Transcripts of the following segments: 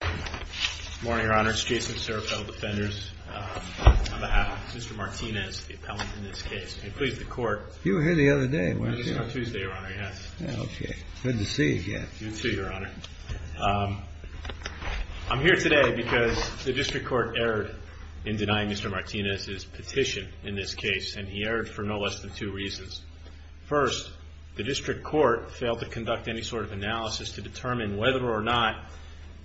Good morning, Your Honor. It's Jason Serapel, Defenders. On behalf of Mr. Martinez, the appellant in this case, and please, the Court You were here the other day, weren't you? I was here on Tuesday, Your Honor, yes. Good to see you again. You too, Your Honor. I'm here today because the District Court erred in denying Mr. Martinez's petition in this case, and he erred for no less than two reasons. First, the District Court failed to conduct any sort of analysis to determine whether or not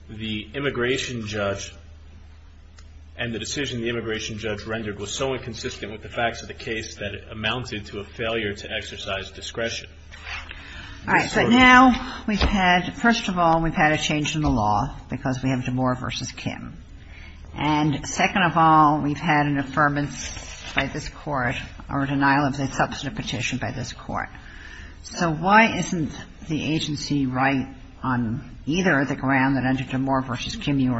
the immigration judge and the decision the immigration judge rendered was so inconsistent with the facts of the case that it amounted to a failure to exercise discretion. All right. So now we've had – first of all, we've had a change in the law because we have DeMoor v. Kim. And second of all, we've had an affirmance by this Court or a denial of the substantive petition by this Court. So why isn't the agency right on either the ground that under DeMoor v. Kim, you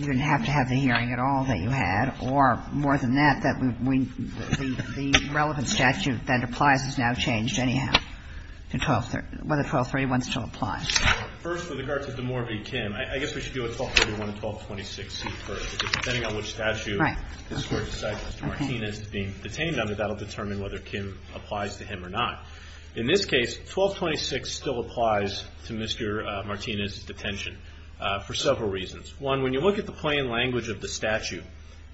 didn't have to have the hearing at all that you had, or more than that, that the relevant statute that applies has now changed anyhow? Whether 1231 still applies. First, with regard to DeMoor v. Kim, I guess we should do a 1231 and 1226C first. Depending on which statute this Court decides Mr. Martinez is being detained under, that will determine whether Kim applies to him or not. In this case, 1226 still applies to Mr. Martinez's detention for several reasons. One, when you look at the plain language of the statute,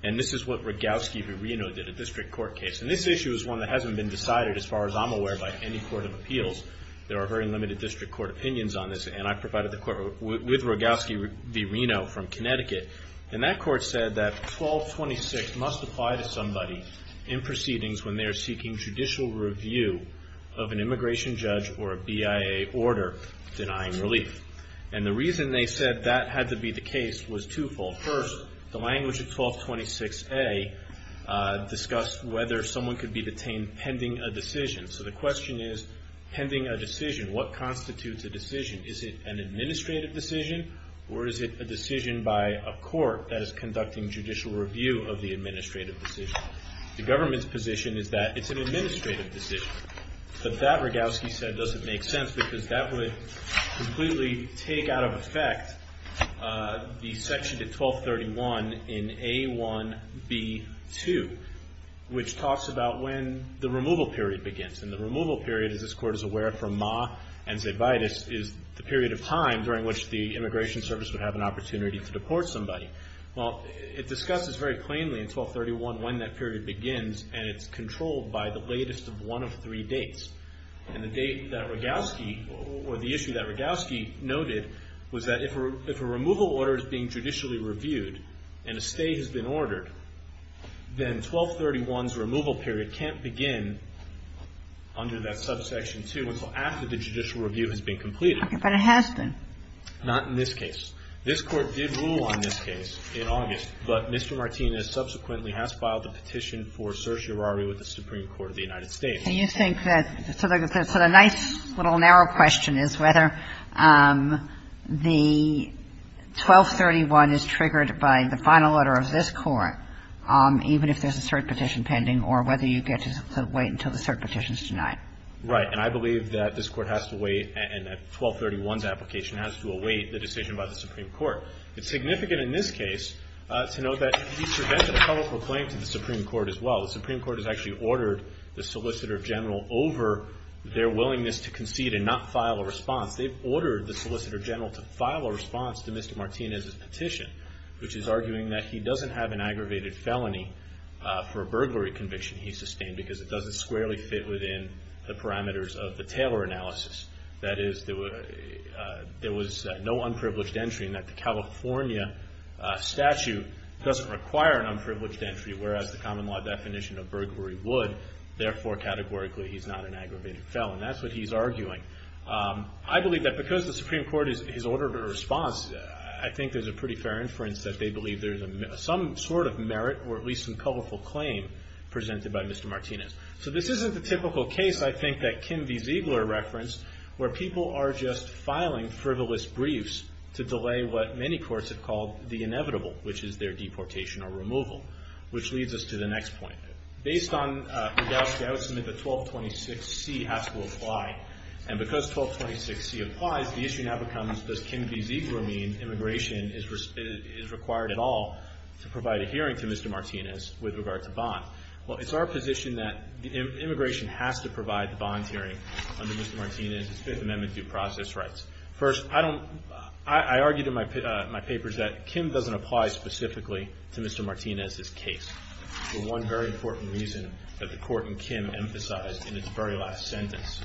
and this is what Rogowski v. Reno did, a District Court case, and this issue is one that hasn't been decided as far as I'm aware by any Court of Appeals. There are very limited District Court opinions on this, and I provided the Court with Rogowski v. Reno from Connecticut. And that Court said that 1226 must apply to somebody in proceedings when they are seeking judicial review of an immigration judge or a BIA order denying relief. And the reason they said that had to be the case was twofold. First, the language of 1226A discussed whether someone could be detained pending a decision. So the question is, pending a decision, what constitutes a decision? Is it an administrative decision, or is it a decision by a court that is conducting judicial review of the administrative decision? The government's position is that it's an administrative decision. But that, Rogowski said, doesn't make sense, because that would completely take out of effect the section to 1231 in A1B2, which talks about when the removal period begins. And the removal period, as this Court is aware from Ma and Zaitvidas, is the period of time during which the immigration service would have an opportunity to deport somebody. Well, it discusses very plainly in 1231 when that period begins, and it's controlled by the latest of one of three dates. And the date that Rogowski, or the issue that Rogowski noted, was that if a removal order is being judicially reviewed and a stay has been ordered, then 1231's removal period can't begin under that subsection 2 until after the judicial review has been completed. Okay. But it has been. Not in this case. This Court did rule on this case in August, but Mr. Martinez subsequently has filed a petition for certiorari with the Supreme Court of the United States. And you think that so the nice little narrow question is whether the 1231 is triggered by the final order of this Court, even if there's a cert petition pending, or whether you get to wait until the cert petition is denied. Right. And I believe that this Court has to wait, and that 1231's application has to await the decision by the Supreme Court. It's significant in this case to note that he presented a public claim to the Supreme Court as well. The Supreme Court has actually ordered the Solicitor General over their willingness to concede and not file a response. They've ordered the Solicitor General to file a response to Mr. Martinez's petition. Which is arguing that he doesn't have an aggravated felony for a burglary conviction he sustained, because it doesn't squarely fit within the parameters of the Taylor analysis. That is, there was no unprivileged entry, and that the California statute doesn't require an unprivileged entry, whereas the common law definition of burglary would. Therefore, categorically, he's not an aggravated felon. That's what he's arguing. I believe that because the Supreme Court has ordered a response, I think there's a pretty fair inference that they believe there's some sort of merit, or at least some colorful claim, presented by Mr. Martinez. So this isn't the typical case, I think, that Kim V. Ziegler referenced, where people are just filing frivolous briefs to delay what many courts have called the inevitable, which is their deportation or removal. Which leads us to the next point. Based on the doubt, I would submit that 1226C has to apply. And because 1226C applies, the issue now becomes, does Kim V. Ziegler mean immigration is required at all to provide a hearing to Mr. Martinez with regard to bond? Well, it's our position that immigration has to provide the bond hearing under Mr. Martinez's Fifth Amendment due process rights. First, I argue in my papers that Kim doesn't apply specifically to Mr. Martinez's case. For one very important reason that the Court in Kim emphasized in its very last sentence.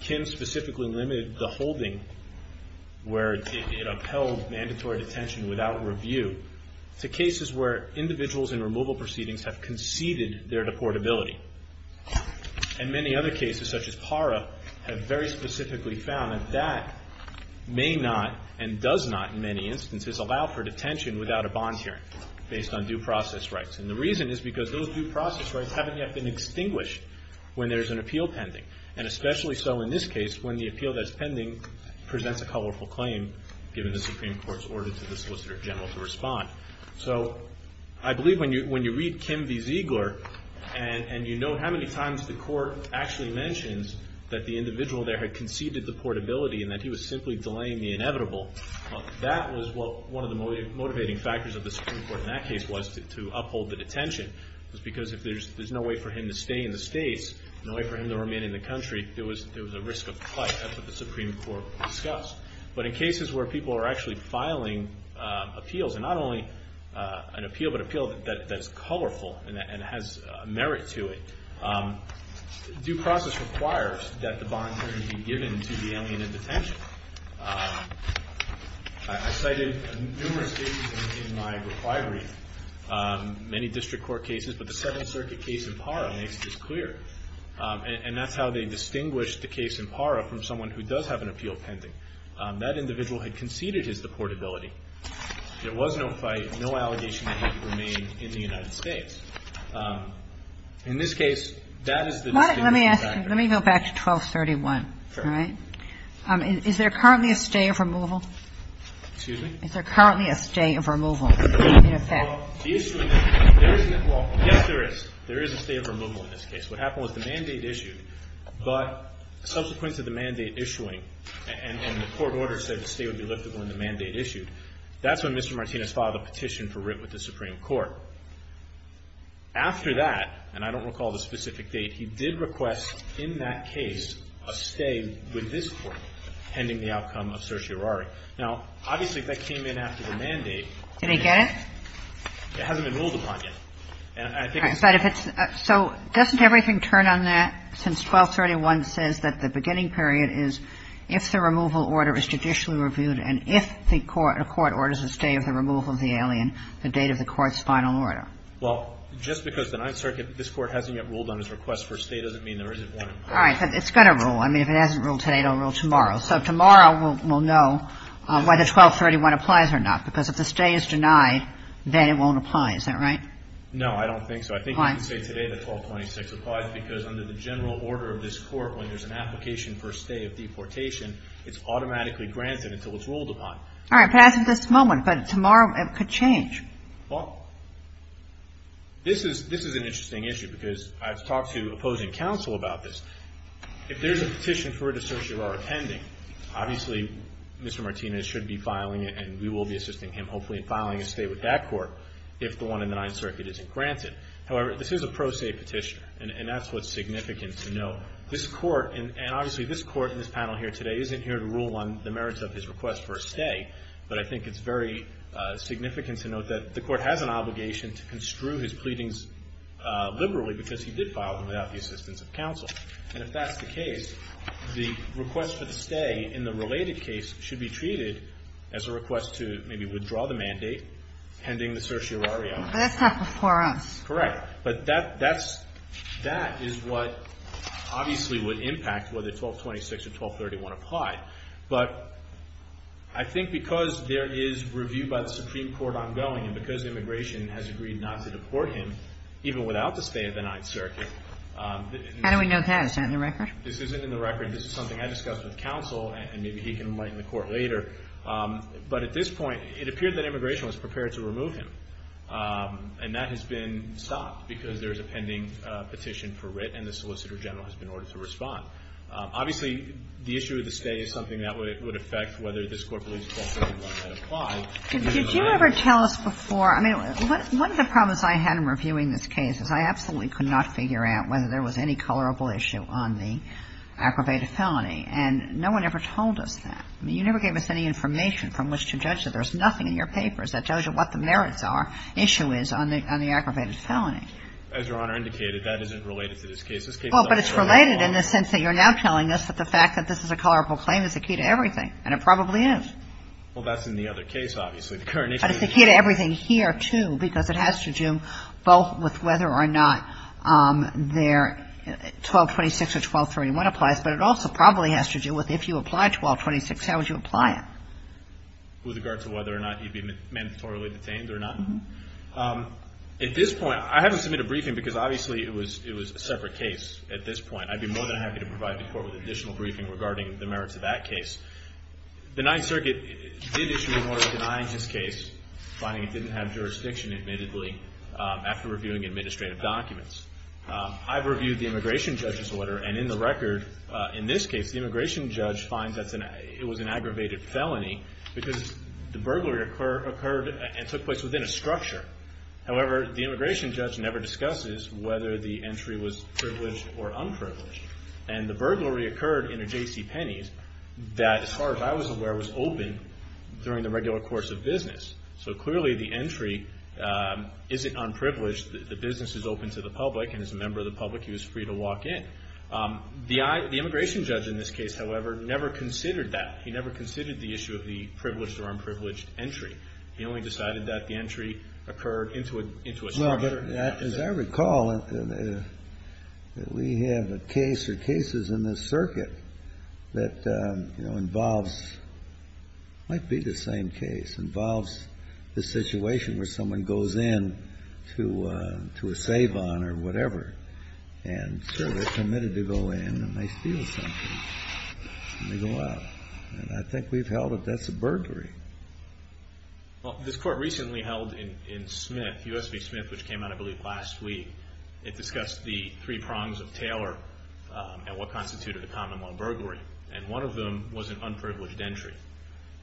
Kim specifically limited the holding where it upheld mandatory detention without review to cases where individuals in removal proceedings have conceded their deportability. And many other cases, such as PARA, have very specifically found that that may not, and does not in many instances, allow for detention without a bond hearing based on due process rights. And the reason is because those due process rights haven't yet been extinguished when there's an appeal pending. And especially so in this case when the appeal that's pending presents a colorful claim given the Supreme Court's order to the Solicitor General to respond. So I believe when you read Kim V. Ziegler and you know how many times the Court actually mentions that the individual there had conceded deportability and that he was simply delaying the inevitable, that was one of the motivating factors of the Supreme Court in that case was to uphold the detention. It was because if there's no way for him to stay in the States, no way for him to remain in the country, there was a risk of flight after the Supreme Court was discussed. But in cases where people are actually filing appeals, and not only an appeal, but an appeal that's colorful and has merit to it, due process requires that the bond hearing be given to the alien in detention. I cited numerous cases in my requirements, many district court cases, but the Second Circuit case in Parra makes this clear. And that's how they distinguish the case in Parra from someone who does have an appeal pending. That individual had conceded his deportability. There was no fight, no allegation that he could remain in the United States. In this case, that is the distinct factor. Let me ask you. Let me go back to 1231. All right? Is there currently a stay of removal? Excuse me? Is there currently a stay of removal in effect? Well, the issue in this case, there isn't. Well, yes, there is. There is a stay of removal in this case. What happened was the mandate issued, but subsequent to the mandate issuing, and the court order said the stay would be liftable in the mandate issued. That's when Mr. Martinez filed a petition for writ with the Supreme Court. After that, and I don't recall the specific date, he did request in that case a stay with this court pending the outcome of certiorari. Now, obviously, if that came in after the mandate, it hasn't been ruled upon yet. So doesn't everything turn on that since 1231 says that the beginning period is if the removal order is judicially reviewed and if the court orders a stay of the removal of the alien, the date of the court's final order? Well, just because the Ninth Circuit, this Court hasn't yet ruled on its request for a stay doesn't mean there isn't one. All right. But it's going to rule. I mean, if it hasn't ruled today, it will rule tomorrow. So tomorrow we'll know whether 1231 applies or not, because if the stay is denied, then it won't apply. Is that right? No, I don't think so. I think you can say today that 1226 applies because under the general order of this court, when there's an application for a stay of deportation, it's automatically granted until it's ruled upon. All right. But as of this moment, but tomorrow it could change. Well, this is an interesting issue because I've talked to opposing counsel about this. If there's a petition for a certiorari pending, obviously, Mr. Martinez should be filing it, and we will be assisting him, hopefully, in filing a stay with that court if the one in the Ninth Circuit isn't granted. However, this is a pro se petition, and that's what's significant to note. This court, and obviously this court in this panel here today, isn't here to rule on the merits of his request for a stay, but I think it's very significant to note that the court has an obligation to construe his pleadings liberally because he did file them without the assistance of counsel. And if that's the case, the request for the stay in the related case should be treated as a request to maybe withdraw the mandate pending the certiorari. But that's not before us. Correct. But that is what obviously would impact whether 1226 or 1231 apply. But I think because there is review by the Supreme Court ongoing and because immigration has agreed not to deport him, even without the stay of the Ninth Circuit. How do we know that? Is that in the record? This isn't in the record. This is something I discussed with counsel, and maybe he can enlighten the Court later. But at this point, it appeared that immigration was prepared to remove him. And that has been stopped because there is a pending petition for writ, and the Solicitor General has been ordered to respond. Obviously, the issue of the stay is something that would affect whether this Court believes 1231 had applied. Did you ever tell us before? I mean, one of the problems I had in reviewing this case is I absolutely could not figure out whether there was any colorable issue on the aggravated felony. And no one ever told us that. I mean, you never gave us any information from which to judge that. There's nothing in your papers that tells you what the merits are, issue is, on the aggravated felony. As Your Honor indicated, that isn't related to this case. Well, but it's related in the sense that you're now telling us that the fact that this is a colorable claim is the key to everything, and it probably is. Well, that's in the other case, obviously. But it's the key to everything here, too, because it has to do both with whether or not their 1226 or 1231 applies, but it also probably has to do with if you apply 1226, how would you apply it? With regard to whether or not you'd be mandatorily detained or not? At this point, I haven't submitted a briefing because obviously it was a separate case at this point. I'd be more than happy to provide the Court with additional briefing regarding the merits of that case. The Ninth Circuit did issue an order denying this case, finding it didn't have jurisdiction, admittedly, after reviewing administrative documents. I've reviewed the Immigration Judge's order, and in the record, in this case, the Immigration Judge finds it was an aggravated felony because the burglary occurred and took place within a structure. However, the Immigration Judge never discusses whether the entry was privileged or unprivileged. And the burglary occurred in a J.C. Penney's that, as far as I was aware, was open during the regular course of business. So clearly, the entry isn't unprivileged. The business is open to the public, and as a member of the public, he was free to walk in. The Immigration Judge, in this case, however, never considered that. He never considered the issue of the privileged or unprivileged entry. He only decided that the entry occurred into a structure. As I recall, we have a case or cases in this circuit that, you know, involves, might be the same case, involves the situation where someone goes in to a Savon or whatever. And, sure, they're committed to go in, and they steal something, and they go out. And I think we've held it. That's a burglary. Well, this court recently held in Smith, U.S. v. Smith, which came out, I believe, last week. It discussed the three prongs of Taylor and what constituted a common law burglary. And one of them was an unprivileged entry.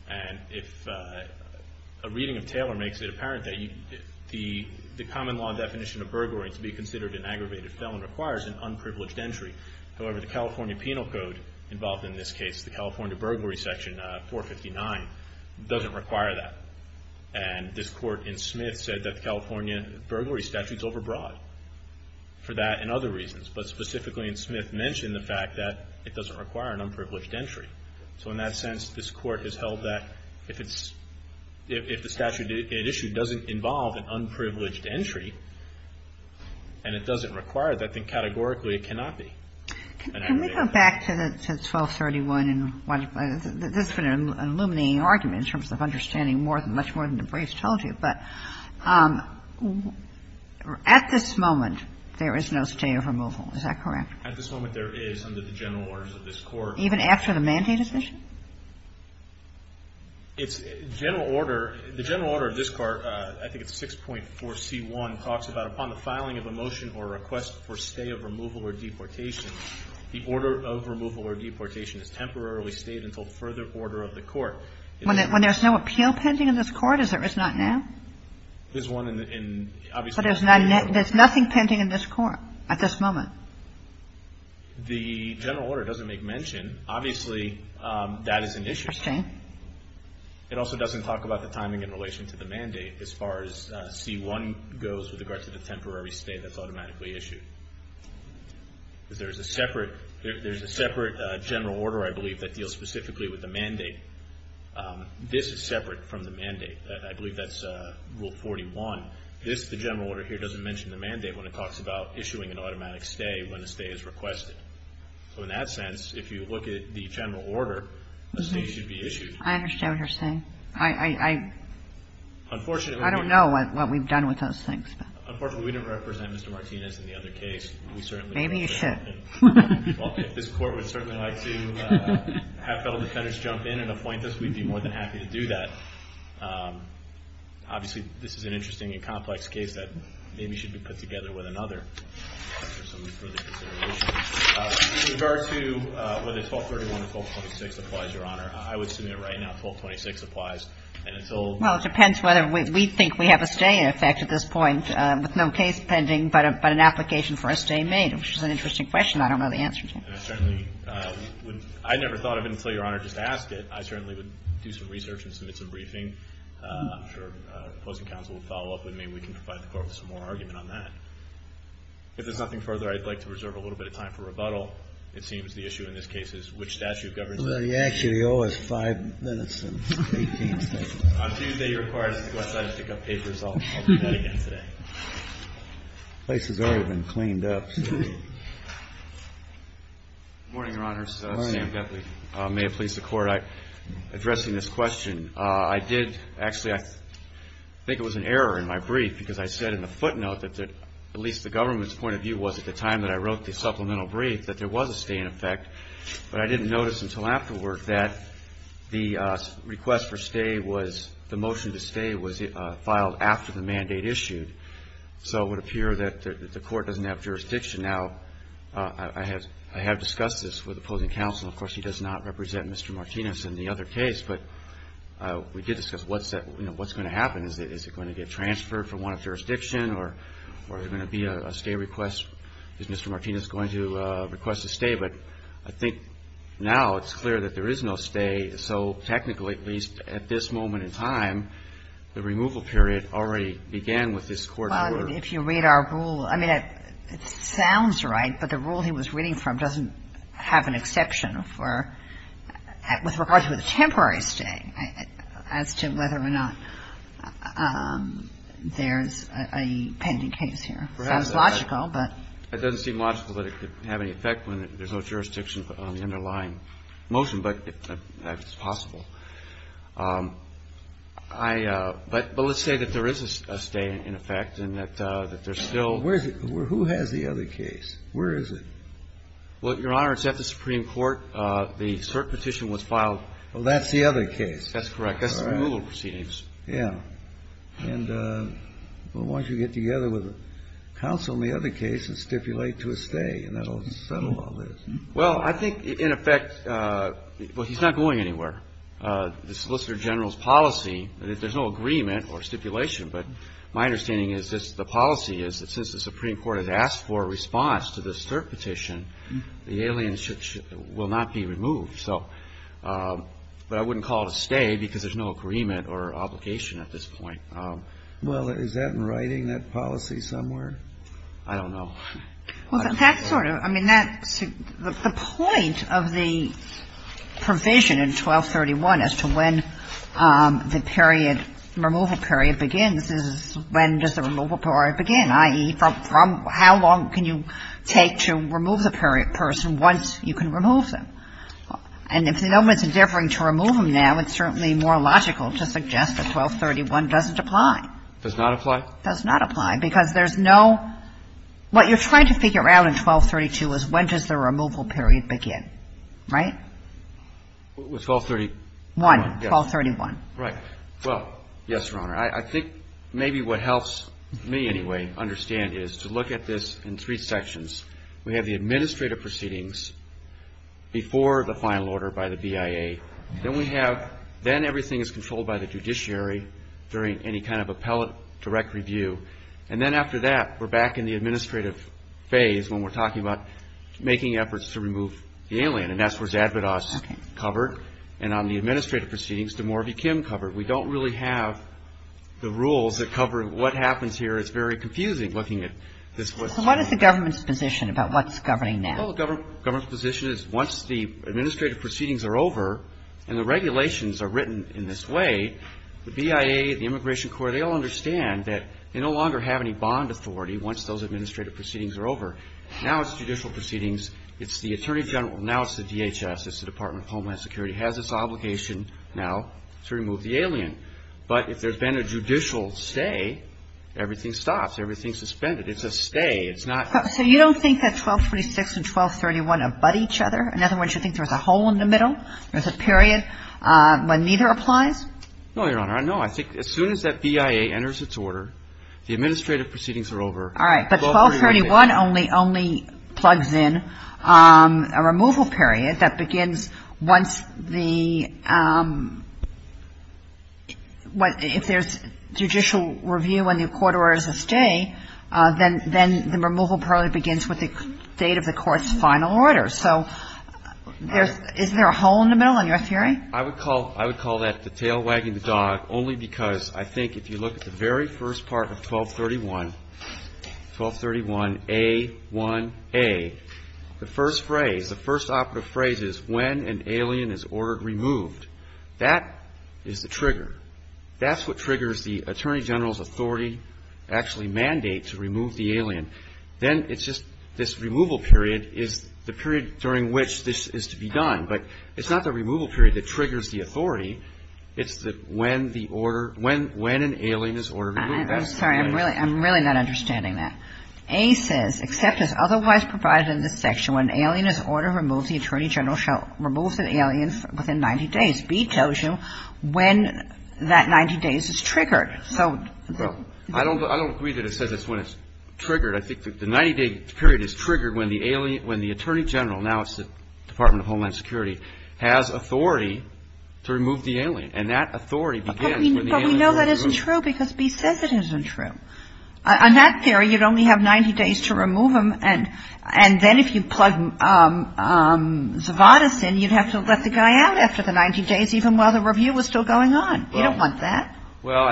And if a reading of Taylor makes it apparent that the common law definition of burglary to be considered an aggravated felon requires an unprivileged entry, however, the California penal code involved in this case, the California burglary section 459, doesn't require that. And this court in Smith said that the California burglary statute's overbroad for that and other reasons. But specifically in Smith mentioned the fact that it doesn't require an unprivileged entry. So in that sense, this court has held that if the statute it issued doesn't involve an unprivileged entry, and it doesn't require that, then categorically it cannot be an aggravated felony. Can we go back to the 1231? This has been an illuminating argument in terms of understanding much more than the briefs told you. But at this moment, there is no state of removal. Is that correct? At this moment, there is under the general orders of this Court. Even after the mandate decision? It's general order. The general order of this Court, I think it's 6.4C1, talks about upon the filing of a motion or request for stay of removal or deportation, the order of removal or deportation is temporarily stayed until further order of the Court. When there's no appeal pending in this Court, is there? It's not now? There's one in, obviously. But there's nothing pending in this Court at this moment? The general order doesn't make mention. Obviously, that is an issue. Interesting. It also doesn't talk about the timing in relation to the mandate as far as C1 goes with regard to the temporary stay that's automatically issued. There's a separate general order, I believe, that deals specifically with the mandate. This is separate from the mandate. I believe that's Rule 41. This, the general order here, doesn't mention the mandate when it talks about issuing an automatic stay when a stay is requested. So in that sense, if you look at the general order, a stay should be issued. I understand what you're saying. I don't know what we've done with those things. Unfortunately, we didn't represent Mr. Martinez in the other case. Maybe you should. If this Court would certainly like to have federal defendants jump in and appoint us, we'd be more than happy to do that. Obviously, this is an interesting and complex case that maybe should be put together with another. With regard to whether 1231 or 1226 applies, Your Honor, I would submit right now 1226 applies. And until — Well, it depends whether we think we have a stay in effect at this point with no case pending but an application for a stay made, which is an interesting question. I don't know the answer to. And I certainly would — I never thought of it until Your Honor just asked it. I certainly would do some research and submit some briefing. I'm sure the opposing counsel will follow up with me. We can provide the Court with some more argument on that. If there's nothing further, I'd like to reserve a little bit of time for rebuttal. It seems the issue in this case is which statute governs it. Well, you actually owe us five minutes and 18 seconds. On Tuesday, you're required to go outside and pick up papers. I'll do that again today. The place has already been cleaned up. Good morning, Your Honors. Good morning. Sam Bethle. May it please the Court, addressing this question. I did — actually, I think it was an error in my brief because I said in the footnote that at least the government's point of view was, at the time that I wrote the supplemental brief, that there was a stay in effect. But I didn't notice until afterward that the request for stay was — the motion to stay was filed after the mandate issued. So it would appear that the Court doesn't have jurisdiction now. I have discussed this with opposing counsel. Of course, he does not represent Mr. Martinez in the other case. But we did discuss what's going to happen. Is it going to get transferred from one jurisdiction or is there going to be a stay request? Is Mr. Martinez going to request a stay? But I think now it's clear that there is no stay. So technically, at least at this moment in time, the removal period already began with this court order. Well, if you read our rule — I mean, it sounds right, but the rule he was reading from doesn't have an exception for — It doesn't have an exception for stay. As to whether or not there's a pending case here. Perhaps. It sounds logical, but — It doesn't seem logical that it could have any effect when there's no jurisdiction on the underlying motion, but that's possible. I — but let's say that there is a stay in effect and that there's still — Where is it? Who has the other case? Where is it? Well, Your Honor, it's at the Supreme Court. The cert petition was filed — Well, that's the other case. That's correct. That's the removal proceedings. Yeah. And why don't you get together with counsel in the other case and stipulate to a stay, and that will settle all this. Well, I think, in effect — well, he's not going anywhere. The Solicitor General's policy — there's no agreement or stipulation, but my understanding is this — is that since the Supreme Court has asked for a response to this cert petition, the alien will not be removed. So — but I wouldn't call it a stay because there's no agreement or obligation at this point. Well, is that in writing, that policy, somewhere? I don't know. Well, that's sort of — I mean, that's — the point of the provision in 1231 as to when the period — removal period begins is when does the removal period begin, i.e., from — how long can you take to remove the person once you can remove them? And if the government's endeavoring to remove them now, it's certainly more logical to suggest that 1231 doesn't apply. Does not apply? Does not apply, because there's no — what you're trying to figure out in 1232 is when does the removal period begin. Right? 1231. 1231. Right. Well, yes, Your Honor. I think maybe what helps me, anyway, understand is to look at this in three sections. We have the administrative proceedings before the final order by the BIA. Then we have — then everything is controlled by the judiciary during any kind of appellate direct review. And then after that, we're back in the administrative phase when we're talking about making efforts to remove the alien. And that's where Zadvodos covered. And on the administrative proceedings, the more of you can cover. We don't really have the rules that cover what happens here. It's very confusing looking at this. So what is the government's position about what's governing that? Well, the government's position is once the administrative proceedings are over and the regulations are written in this way, the BIA, the Immigration Court, they all understand that they no longer have any bond authority once those administrative proceedings are over. Now it's judicial proceedings. It's the Attorney General. Now it's the DHS. It's the Department of Homeland Security has this obligation now to remove the alien. But if there's been a judicial stay, everything stops. Everything's suspended. It's a stay. It's not — So you don't think that 1236 and 1231 abut each other? In other words, you think there's a hole in the middle? There's a period when neither applies? No, Your Honor. No, I think as soon as that BIA enters its order, the administrative proceedings are over. All right. But 1231 only plugs in a removal period that begins once the — if there's judicial review and the court orders a stay, then the removal probably begins with the date of the court's final order. So is there a hole in the middle in your theory? I would call that the tail wagging the dog only because I think if you look at the very first part of 1231, 1231A1A, the first phrase, the first operative phrase is when an alien is ordered removed. That is the trigger. That's what triggers the attorney general's authority actually mandate to remove the alien. Then it's just this removal period is the period during which this is to be done. So I think if you look at the first part of 1231A1A, it's the when the order — when an alien is ordered removed. I'm sorry. I'm really not understanding that. A says, except as otherwise provided in this section, when an alien is ordered removed, the attorney general shall remove the alien within 90 days. B tells you when that 90 days is triggered. So — Well, I don't agree that it says it's when it's triggered. I think the 90-day period is triggered when the attorney general, now it's the Department of Homeland Security, has authority to remove the alien. And that authority begins when the alien is ordered removed. But we know that isn't true because B says it isn't true. On that theory, you'd only have 90 days to remove him. And then if you plug Zavadas in, you'd have to let the guy out after the 90 days, even while the review was still going on. You don't want that. Well,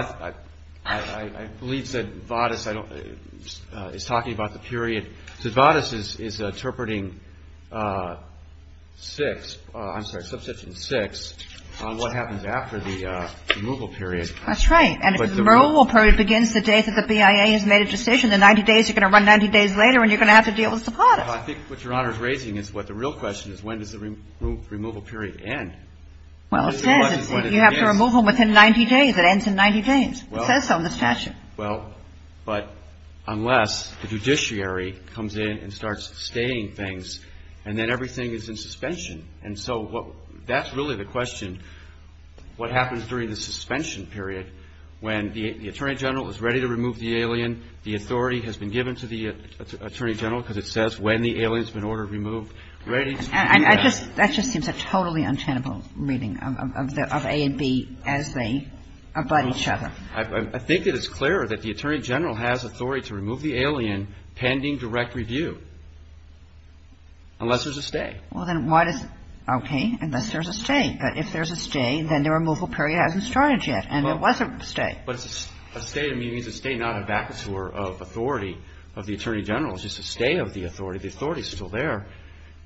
I believe Zavadas is talking about the period. Zavadas is interpreting 6, I'm sorry, Subsection 6 on what happens after the removal period. That's right. And if the removal period begins the day that the BIA has made a decision, the 90 days, you're going to run 90 days later, and you're going to have to deal with Zavadas. I think what Your Honor is raising is what the real question is, when does the removal period end? Well, it says. You have to remove him within 90 days. It ends in 90 days. It says so in the statute. Well, but unless the judiciary comes in and starts stating things, and then everything is in suspension. And so that's really the question, what happens during the suspension period when the Attorney General is ready to remove the alien, the authority has been given to the Attorney General, That just seems a totally untenable reading of A and B as they abut each other. I think it is clear that the Attorney General has authority to remove the alien pending direct review unless there's a stay. Well, then why does, okay, unless there's a stay. But if there's a stay, then the removal period hasn't started yet, and there was a stay. But a stay means a stay not a vacatur of authority of the Attorney General. It's just a stay of the authority. The authority is still there.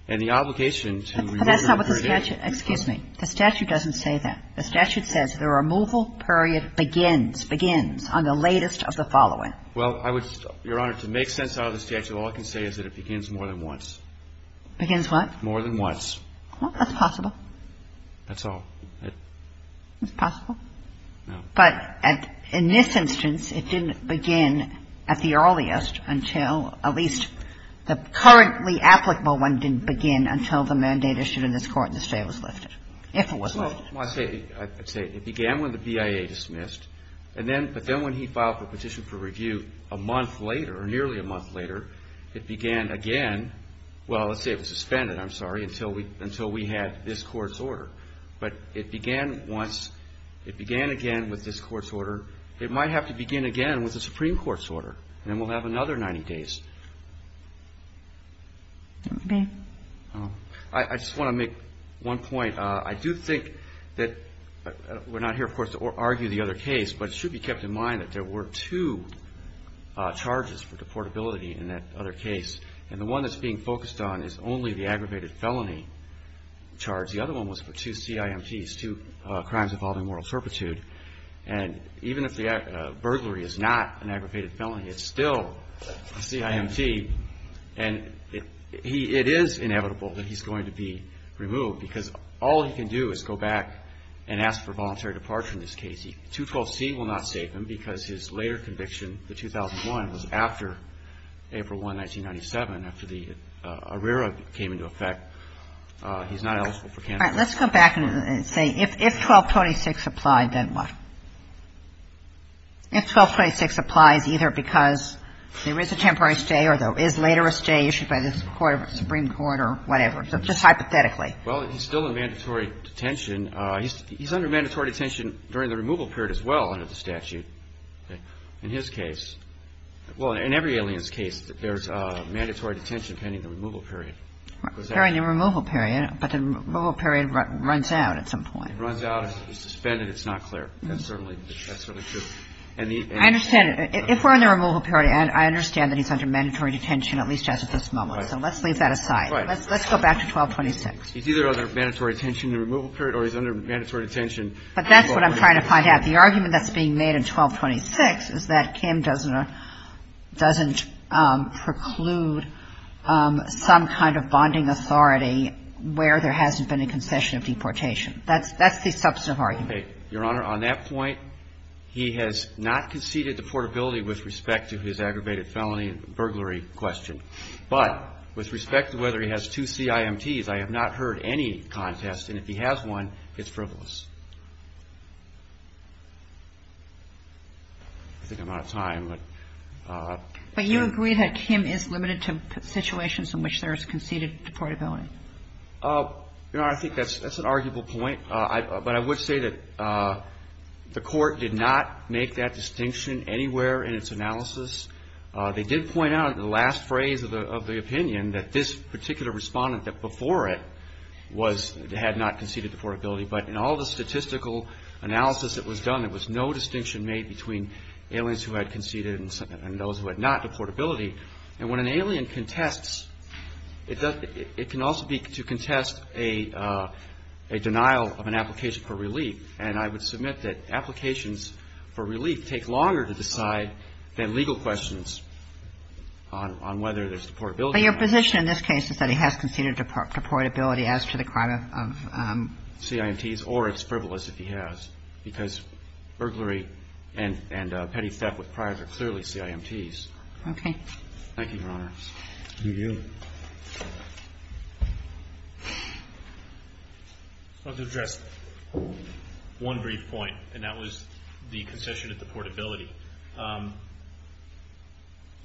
And the obligation to remove the alien. But that's not what the statute, excuse me, the statute doesn't say that. The statute says the removal period begins, begins on the latest of the following. Well, I would, Your Honor, to make sense out of the statute, all I can say is that it begins more than once. Begins what? More than once. Well, that's possible. That's all. It's possible? No. But in this instance, it didn't begin at the earliest until at least the currently applicable one didn't begin until the mandate issued in this Court and the stay was lifted. If it was lifted. Well, I'd say it began when the BIA dismissed. And then, but then when he filed the petition for review a month later, or nearly a month later, it began again. Well, let's say it was suspended, I'm sorry, until we had this Court's order. But it began once, it began again with this Court's order. It might have to begin again with the Supreme Court's order. And then we'll have another 90 days. Okay. I just want to make one point. I do think that we're not here, of course, to argue the other case, but it should be kept in mind that there were two charges for deportability in that other case. And the one that's being focused on is only the aggravated felony charge. The other one was for two CIMTs, two crimes involving moral turpitude. And even if the burglary is not an aggravated felony, it's still a CIMT. And it is inevitable that he's going to be removed because all he can do is go back and ask for voluntary departure in this case. 212C will not save him because his later conviction, the 2001, was after April 1, 1997, after the ARERA came into effect. He's not eligible for cancellation. All right. Let's go back and say if 1226 applied, then what? If 1226 applies either because there is a temporary stay or there is later a stay issued by the Supreme Court or whatever. So just hypothetically. Well, he's still in mandatory detention. He's under mandatory detention during the removal period as well under the statute in his case. Well, in every alien's case, there's mandatory detention pending the removal period. During the removal period, but the removal period runs out at some point. It runs out. It's suspended. It's not clear. That's certainly true. I understand. If we're in the removal period, I understand that he's under mandatory detention at least as of this moment. So let's leave that aside. Right. Let's go back to 1226. He's either under mandatory detention in the removal period or he's under mandatory detention. But that's what I'm trying to find out. The argument that's being made in 1226 is that Kim doesn't preclude some kind of bonding authority where there hasn't been a concession of deportation. That's the substantive argument. Your Honor, on that point, he has not conceded deportability with respect to his aggravated felony and burglary question. But with respect to whether he has two CIMTs, I have not heard any contest. And if he has one, it's frivolous. I think I'm out of time. But you agree that Kim is limited to situations in which there is conceded deportability. Your Honor, I think that's an arguable point. But I would say that the Court did not make that distinction anywhere in its analysis. They did point out in the last phrase of the opinion that this particular respondent before it had not conceded deportability. But in all the statistical analysis that was done, there was no distinction made between aliens who had conceded and those who had not deportability. And when an alien contests, it can also be to contest a denial of an application for relief. And I would submit that applications for relief take longer to decide than legal questions on whether there's deportability. But your position in this case is that he has conceded deportability as to the crime of CIMTs? Or it's frivolous if he has, because burglary and petty theft with priors are clearly CIMTs. Okay. Thank you, Your Honor. Thank you. I'd like to address one brief point, and that was the concession of deportability.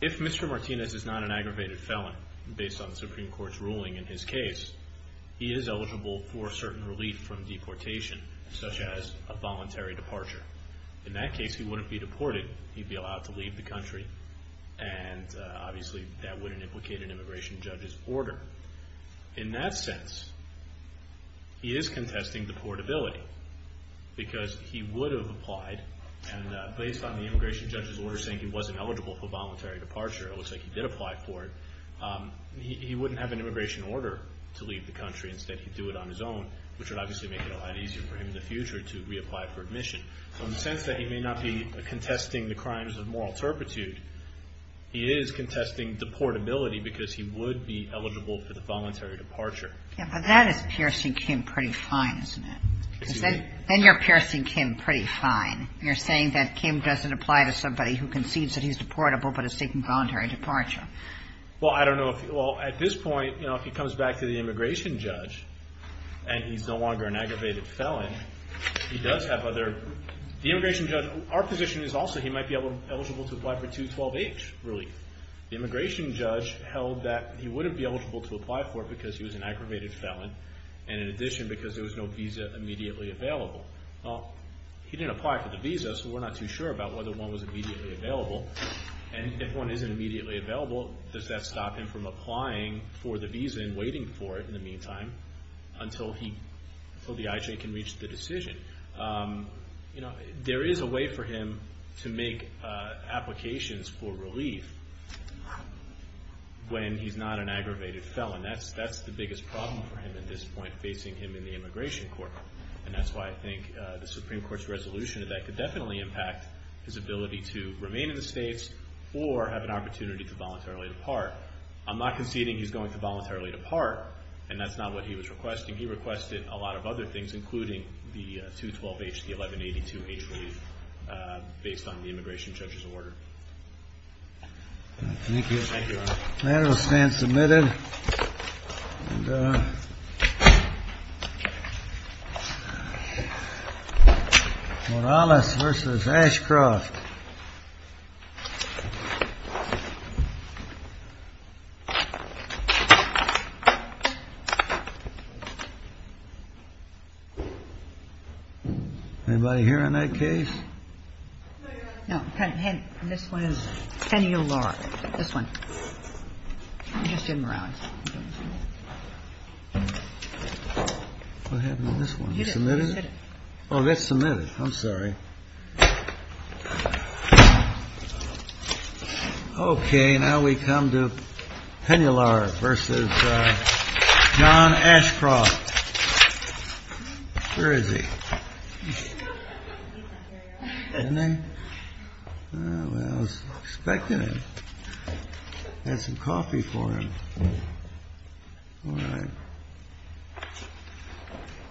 If Mr. Martinez is not an aggravated felon, based on the Supreme Court's ruling in his case, he is eligible for certain relief from deportation, such as a voluntary departure. In that case, he wouldn't be deported. He'd be allowed to leave the country. And obviously, that wouldn't implicate an immigration judge's order. In that sense, he is contesting deportability, because he would have applied. And based on the immigration judge's order saying he wasn't eligible for voluntary departure, it looks like he did apply for it, he wouldn't have an immigration order to leave the country. Instead, he'd do it on his own, which would obviously make it a lot easier for him in the future to reapply for admission. So in the sense that he may not be contesting the crimes of moral turpitude, he is contesting deportability because he would be eligible for the voluntary departure. Yeah, but that is piercing Kim pretty fine, isn't it? Then you're piercing Kim pretty fine. You're saying that Kim doesn't apply to somebody who concedes that he's deportable but is seeking voluntary departure. Well, I don't know. Well, at this point, you know, if he comes back to the immigration judge and he's no longer an aggravated felon, he does have other... The immigration judge... Our position is also he might be eligible to apply for 212H relief. The immigration judge held that he wouldn't be eligible to apply for it because he was an aggravated felon, and in addition, because there was no visa immediately available. Well, he didn't apply for the visa, so we're not too sure about whether one was immediately available. And if one isn't immediately available, does that stop him from applying for the visa and waiting for it in the meantime until the IJ can reach the decision? You know, there is a way for him to make applications for relief when he's not an aggravated felon. That's the biggest problem for him at this point, facing him in the immigration court, and that's why I think the Supreme Court's resolution to that could definitely impact his ability to remain in the States or have an opportunity to voluntarily depart. I'm not conceding he's going to voluntarily depart, and that's not what he was requesting. He requested a lot of other things, including the 212H, the 1182H relief, based on the immigration judge's order. Thank you. Thank you, Your Honor. The matter will stand submitted. Morales v. Ashcroft. Anybody here on that case? No. This one is Penular. This one. You just did Morales. What happened to this one? You submitted it? Oh, that's submitted. I'm sorry. Okay. Now we come to Penular v. John Ashcroft. Where is he? Isn't he? I was expecting him. I had some coffee for him. All right.